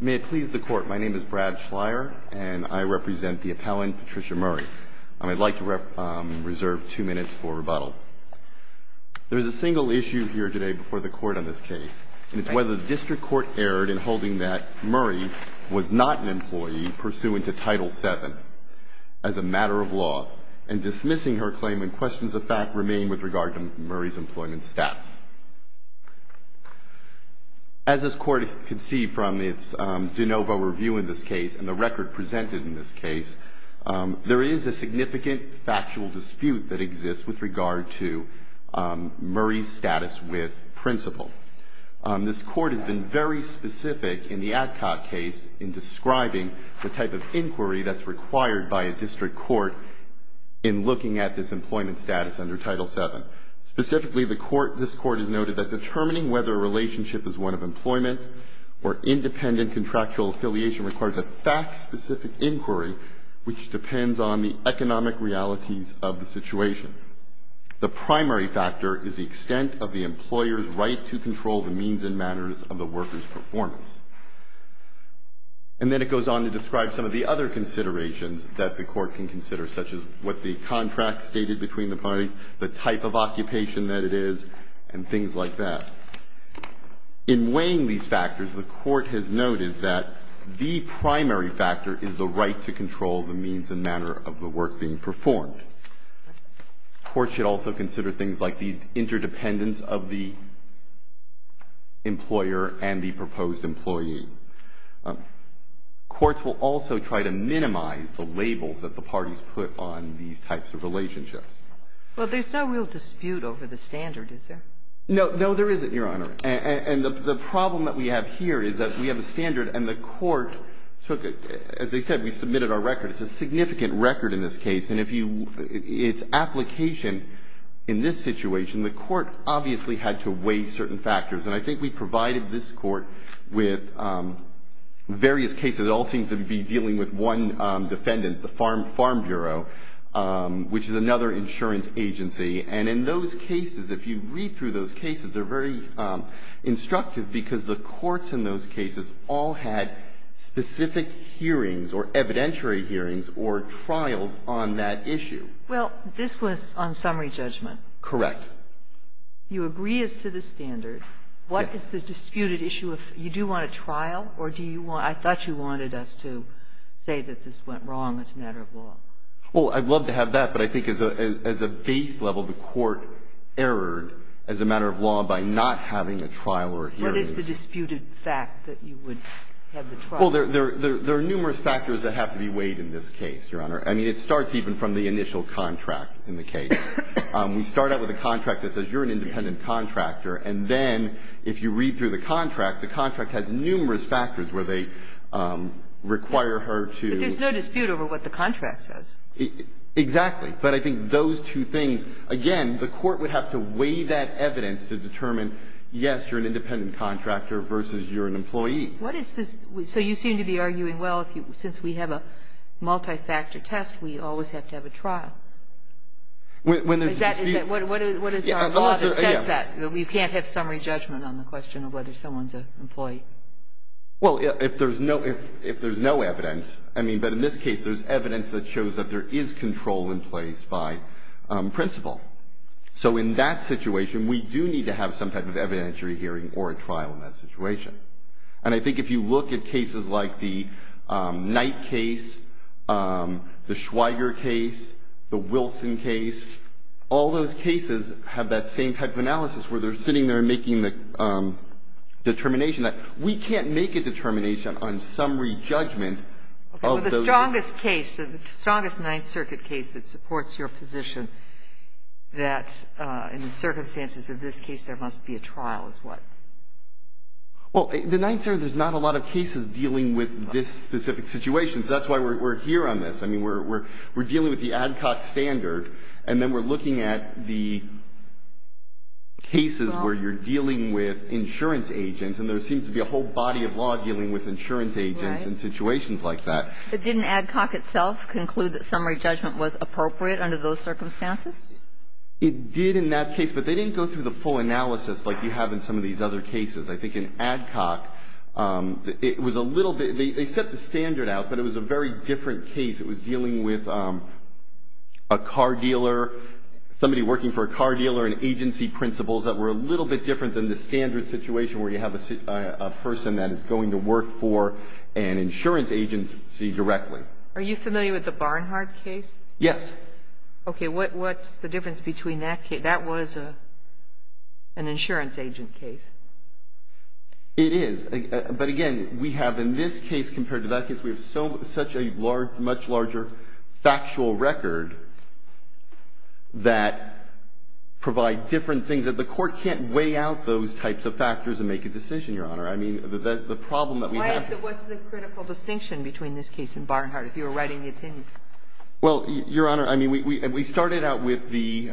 May it please the Court, my name is Brad Schleyer and I represent the appellant Patricia Murray. I'd like to reserve two minutes for rebuttal. There is a single issue here today before the Court on this case, and it's whether the District Court erred in holding that Murray was not an employee pursuant to Title VII as a matter of law, and dismissing her claim when questions of fact remain with regard to Murray's employment stats. As this Court can see from its de novo review in this case, and the record presented in this case, there is a significant factual dispute that exists with regard to Murray's status with Principal. This Court has been very specific in the Adcock case in describing the type of inquiry that's required by a District Court in looking at this employment status under Title VII. Specifically, this Court has noted that determining whether a relationship is one of employment or independent contractual affiliation requires a fact-specific inquiry which depends on the economic realities of the situation. The primary factor is the extent of the employer's right to control the means and manners of the worker's performance. And then it goes on to describe some of the other considerations that the Court can consider, such as what the contract stated between the parties, the type of occupation that it is, and things like that. In weighing these factors, the Court has noted that the primary factor is the right to control the means and manner of the work being performed. The Court should also consider things like the interdependence of the employer and the proposed employee. Courts will also try to minimize the labels that the parties put on these types of relationships. Well, there's no real dispute over the standard, is there? No. No, there isn't, Your Honor. And the problem that we have here is that we have a standard and the Court took it. As I said, we submitted our record. It's a significant record in this case. And if you – its application in this situation, the Court obviously had to weigh certain factors. And I think we provided this Court with various cases. It all seems to be dealing with one defendant, the Farm Bureau, which is another insurance agency. And in those cases, if you read through those cases, they're very instructive because the courts in those cases all had specific hearings or evidentiary hearings or trials on that issue. Well, this was on summary judgment. Correct. You agree as to the standard. Yes. What is the disputed issue? You do want a trial? Or do you want – I thought you wanted us to say that this went wrong as a matter of law. Well, I'd love to have that, but I think as a base level, the Court erred as a matter of law by not having a trial or a hearing. What is the disputed fact that you would have the trial? Well, there are numerous factors that have to be weighed in this case, Your Honor. I mean, it starts even from the initial contract in the case. We start out with a contract that says you're an independent contractor, and then if you read through the contract, the contract has numerous factors where they require her to – But there's no dispute over what the contract says. Exactly. But I think those two things – again, the Court would have to weigh that evidence to determine, yes, you're an independent contractor versus you're an employee. What is this – so you seem to be arguing, well, since we have a multi-factor test, we always have to have a trial. Is that – what is the law that says that? You can't have summary judgment on the question of whether someone's an employee. Well, if there's no evidence – I mean, but in this case, there's evidence that shows that there is control in place by principle. So in that situation, we do need to have some type of evidentiary hearing or a trial in that situation. And I think if you look at cases like the Knight case, the Schweiger case, the Wilson case, all those cases have that same type of analysis where they're sitting there and making the determination that we can't make a determination on summary judgment. Okay. But the strongest case, the strongest Ninth Circuit case that supports your position, that in the circumstances of this case there must be a trial is what? Well, the Ninth Circuit, there's not a lot of cases dealing with this specific situation. So that's why we're here on this. I mean, we're dealing with the ADCOC standard, and then we're looking at the cases where you're dealing with insurance agents, and there seems to be a whole body of law dealing with insurance agents in situations like that. But didn't ADCOC itself conclude that summary judgment was appropriate under those circumstances? It did in that case, but they didn't go through the full analysis like you have in some of these other cases. I think in ADCOC, it was a little bit – they set the standard out, but it was a very different case. It was dealing with a car dealer, somebody working for a car dealer, and agency principles that were a little bit different than the standard situation where you have a person that is going to work for an insurance agency directly. Are you familiar with the Barnhardt case? Yes. Okay. What's the difference between that case? That was an insurance agent case. It is. But, again, we have in this case compared to that case, we have such a large – much larger factual record that provide different things that the Court can't weigh out those types of factors and make a decision, Your Honor. I mean, the problem that we have – Why is that? What's the critical distinction between this case and Barnhardt if you were writing the opinion? Well, Your Honor, I mean, we started out with the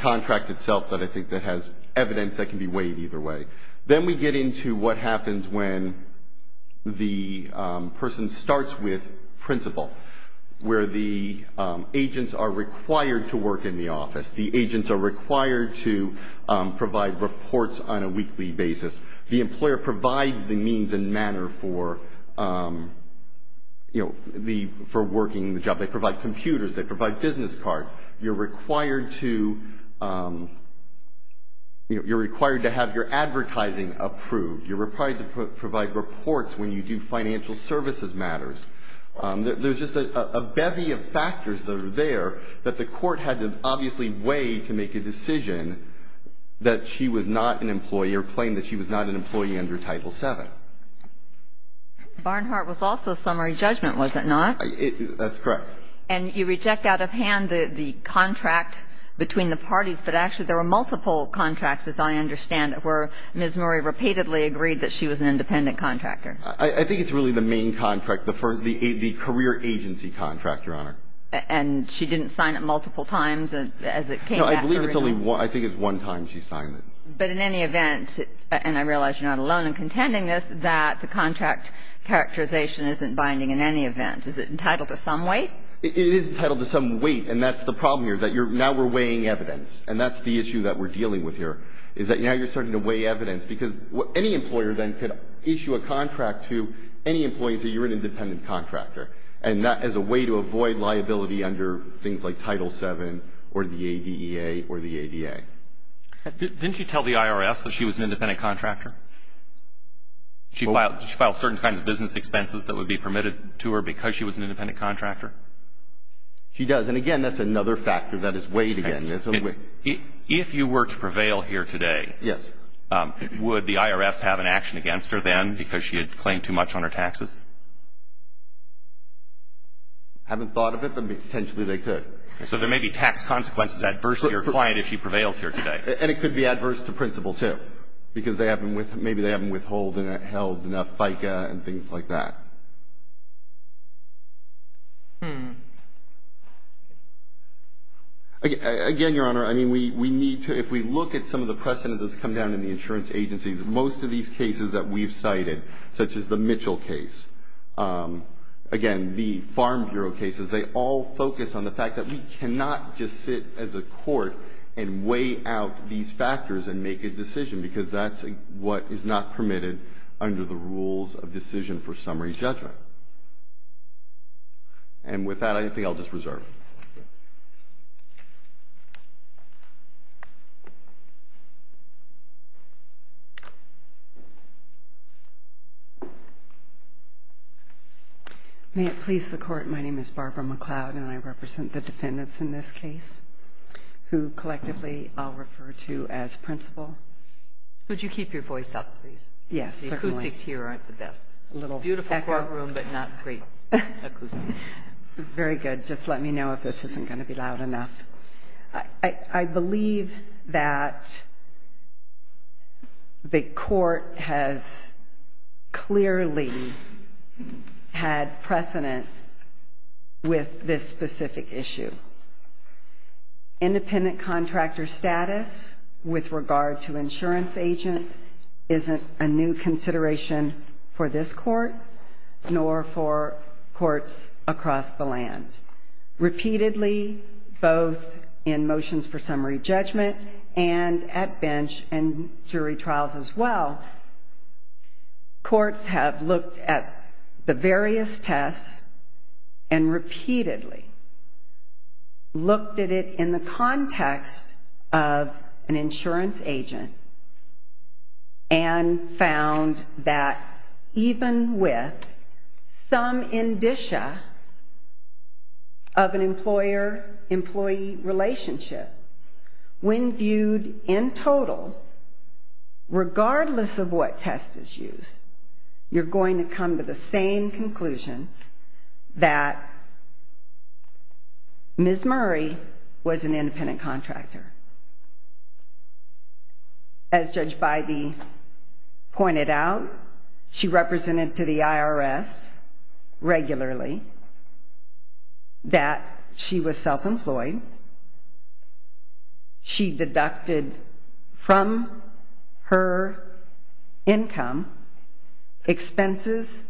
contract itself that I think that has evidence that can be weighed either way. Then we get into what happens when the person starts with principle, where the agents are required to work in the office. The agents are required to provide reports on a weekly basis. The employer provides the means and manner for, you know, for working the job. They provide computers. They provide business cards. You're required to – you're required to have your advertising approved. You're required to provide reports when you do financial services matters. There's just a bevy of factors that are there that the Court had to obviously weigh to make a decision that she was not an employee or claimed that she was not an employee under Title VII. Barnhardt was also summary judgment, was it not? That's correct. And you reject out of hand the contract between the parties. But actually there were multiple contracts, as I understand it, where Ms. Murray repeatedly agreed that she was an independent contractor. I think it's really the main contract, the career agency contract, Your Honor. And she didn't sign it multiple times as it came back? No. I believe it's only one. I think it's one time she signed it. But in any event, and I realize you're not alone in contending this, that the contract characterization isn't binding in any event. Is it entitled to some weight? It is entitled to some weight. And that's the problem here, that now we're weighing evidence. And that's the issue that we're dealing with here, is that now you're starting to weigh evidence. Because any employer then could issue a contract to any employee and say you're an independent contractor. And that is a way to avoid liability under things like Title VII or the ADEA or the ADA. Didn't she tell the IRS that she was an independent contractor? She filed certain kinds of business expenses that would be permitted to her because she was an independent contractor? She does. And, again, that's another factor that is weighed again. If you were to prevail here today, would the IRS have an action against her then because she had claimed too much on her taxes? I haven't thought of it, but potentially they could. So there may be tax consequences adverse to your client if she prevails here today. And it could be adverse to principal, too, because maybe they haven't withheld enough FICA and things like that. Again, Your Honor, if we look at some of the precedents that's come down in the insurance agencies, most of these cases that we've cited, such as the Mitchell case, again, the Farm Bureau cases, they all focus on the fact that we cannot just sit as a court and weigh out these factors and make a decision because that's what is not permitted under the rules of decision for summary judgment. And with that, I think I'll just reserve. May it please the Court, my name is Barbara McLeod, and I represent the defendants in this case who collectively I'll refer to as principal. Could you keep your voice up, please? Yes, certainly. The acoustics here aren't the best. A little echo. Beautiful courtroom, but not great acoustics. Very good. Just let me know if this isn't going to be loud enough. I believe that the court has clearly had precedent with this specific issue. Independent contractor status with regard to insurance agents isn't a new consideration for this court nor for courts across the land. Repeatedly, both in motions for summary judgment and at bench and jury trials as well, courts have looked at the various tests and repeatedly looked at it in the context of an insurance agent and found that even with some indicia of an employer-employee relationship, when viewed in total, regardless of what test is used, you're going to come to the same conclusion that Ms. Murray was an independent contractor. As Judge Bybee pointed out, she represented to the IRS regularly that she was self-employed. She deducted from her income expenses,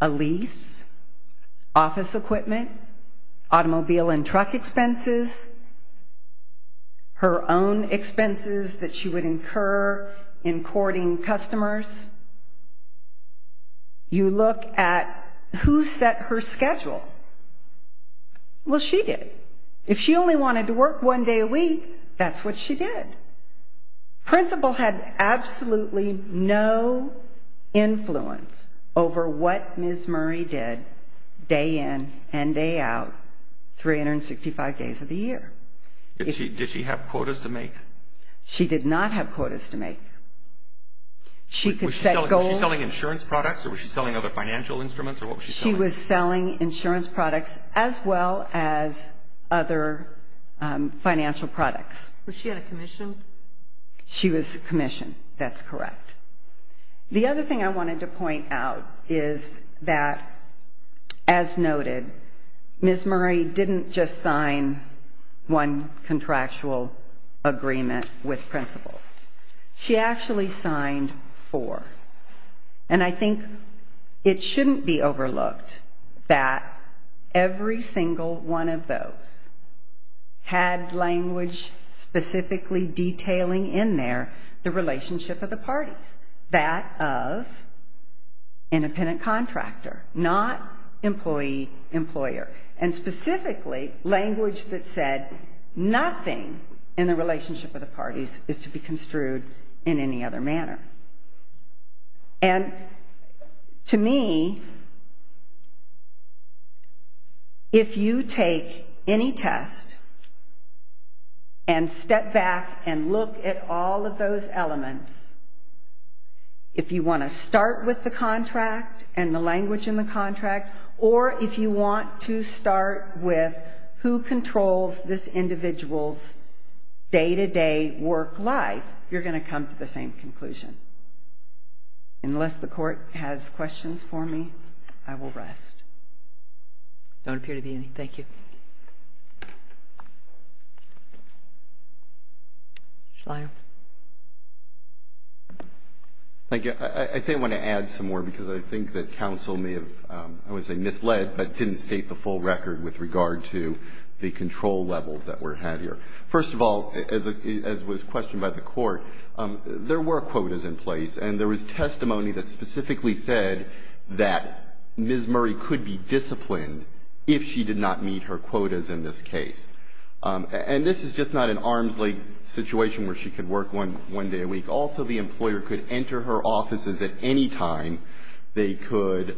a lease, office equipment, automobile and truck expenses, her own expenses that she would incur in courting customers. You look at who set her schedule. Well, she did. If she only wanted to work one day a week, that's what she did. Principal had absolutely no influence over what Ms. Murray did day in and day out 365 days of the year. Did she have quotas to make? She did not have quotas to make. Was she selling insurance products or was she selling other financial instruments or what was she selling? She was selling insurance products as well as other financial products. Was she on a commission? She was commissioned. That's correct. The other thing I wanted to point out is that, as noted, Ms. Murray didn't just sign one contractual agreement with Principal. She actually signed four. And I think it shouldn't be overlooked that every single one of those had language specifically detailing in there the relationship of the parties, that of independent contractor, not employee-employer, and specifically language that said nothing in the relationship of the parties is to be construed in any other manner. And to me, if you take any test and step back and look at all of those elements, if you want to start with the contract and the language in the contract or if you want to start with who controls this individual's day-to-day work life, you're going to come to the same conclusion. Unless the Court has questions for me, I will rest. There don't appear to be any. Thank you. Shalaya? Thank you. I think I want to add some more because I think that counsel may have, I would say, misled but didn't state the full record with regard to the control levels that were had here. First of all, as was questioned by the Court, there were quotas in place, and there was testimony that specifically said that Ms. Murray could be disciplined if she did not meet her quotas in this case. And this is just not an arm's-length situation where she could work one day a week. Also, the employer could enter her offices at any time. They could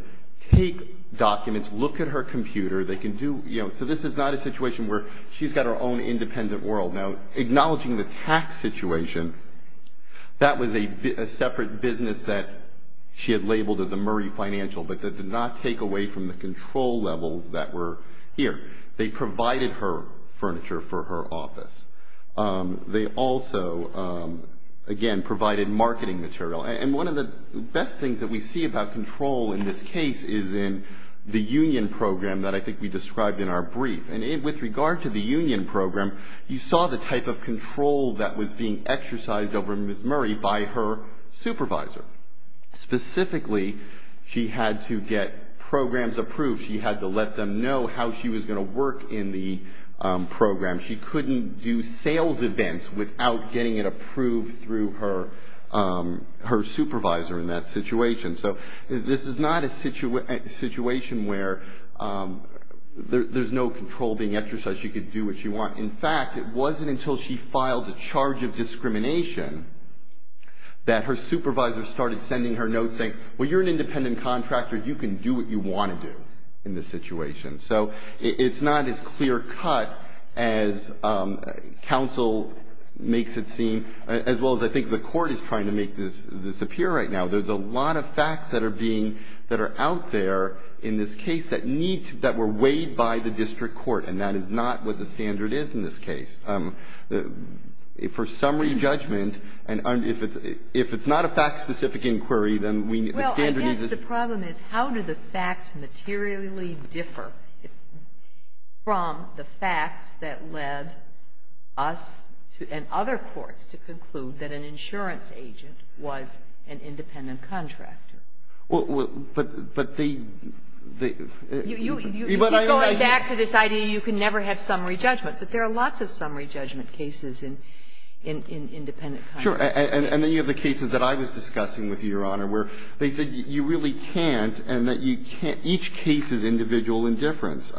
take documents, look at her computer. They can do, you know, so this is not a situation where she's got her own independent world. Now, acknowledging the tax situation, that was a separate business that she had labeled as a Murray financial, but that did not take away from the control levels that were here. They provided her furniture for her office. They also, again, provided marketing material. And one of the best things that we see about control in this case is in the union program that I think we described in our brief. And with regard to the union program, you saw the type of control that was being exercised over Ms. Murray by her supervisor. Specifically, she had to get programs approved. She had to let them know how she was going to work in the program. She couldn't do sales events without getting it approved through her supervisor in that situation. So, this is not a situation where there's no control being exercised. She could do what she wants. In fact, it wasn't until she filed a charge of discrimination that her supervisor started sending her notes saying, well, you're an independent contractor. You can do what you want to do in this situation. So, it's not as clear cut as counsel makes it seem, as well as I think the court is trying to make this appear right now. There's a lot of facts that are being, that are out there in this case that need to, that were weighed by the district court. And that is not what the standard is in this case. For summary judgment, and if it's not a fact-specific inquiry, then we, the standard is. Well, I guess the problem is how do the facts materially differ from the facts that led us to, and other courts, to conclude that an insurance agent was an independent contractor? Well, but they, they. You keep going back to this idea you can never have summary judgment. But there are lots of summary judgment cases in, in independent contractors. Sure. And then you have the cases that I was discussing with you, Your Honor, where they said you really can't, and that you can't, each case is individual in difference.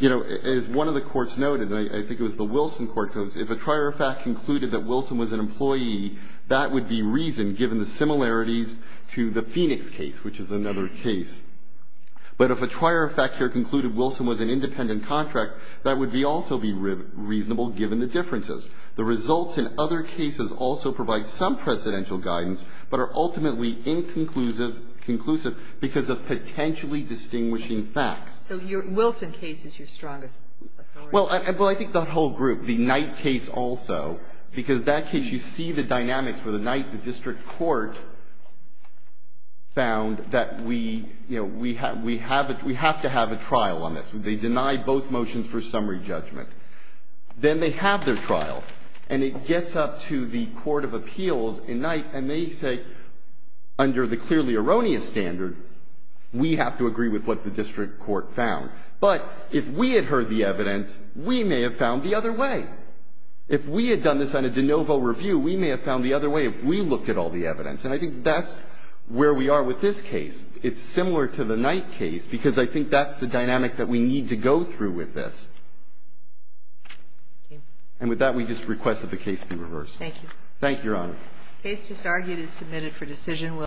You know, as one of the courts noted, and I think it was the Wilson court, goes if a trier of fact concluded that Wilson was an employee, that would be reason given the similarities to the Phoenix case, which is another case. But if a trier of fact here concluded Wilson was an independent contract, that would be also be reasonable given the differences. The results in other cases also provide some precedential guidance, but are ultimately inconclusive, conclusive because of potentially distinguishing facts. So your Wilson case is your strongest authority? Well, I think that whole group, the Knight case also, because that case, you see the dynamics where the Knight district court found that we, you know, we have to have a trial on this. They deny both motions for summary judgment. Then they have their trial, and it gets up to the court of appeals in Knight, and they say, under the clearly erroneous standard, we have to agree with what the district court found. But if we had heard the evidence, we may have found the other way. If we had done this on a de novo review, we may have found the other way if we looked at all the evidence. And I think that's where we are with this case. It's similar to the Knight case because I think that's the dynamic that we need to go through with this. And with that, we just request that the case be reversed. Thank you. Thank you, Your Honor. The case just argued is submitted for decision.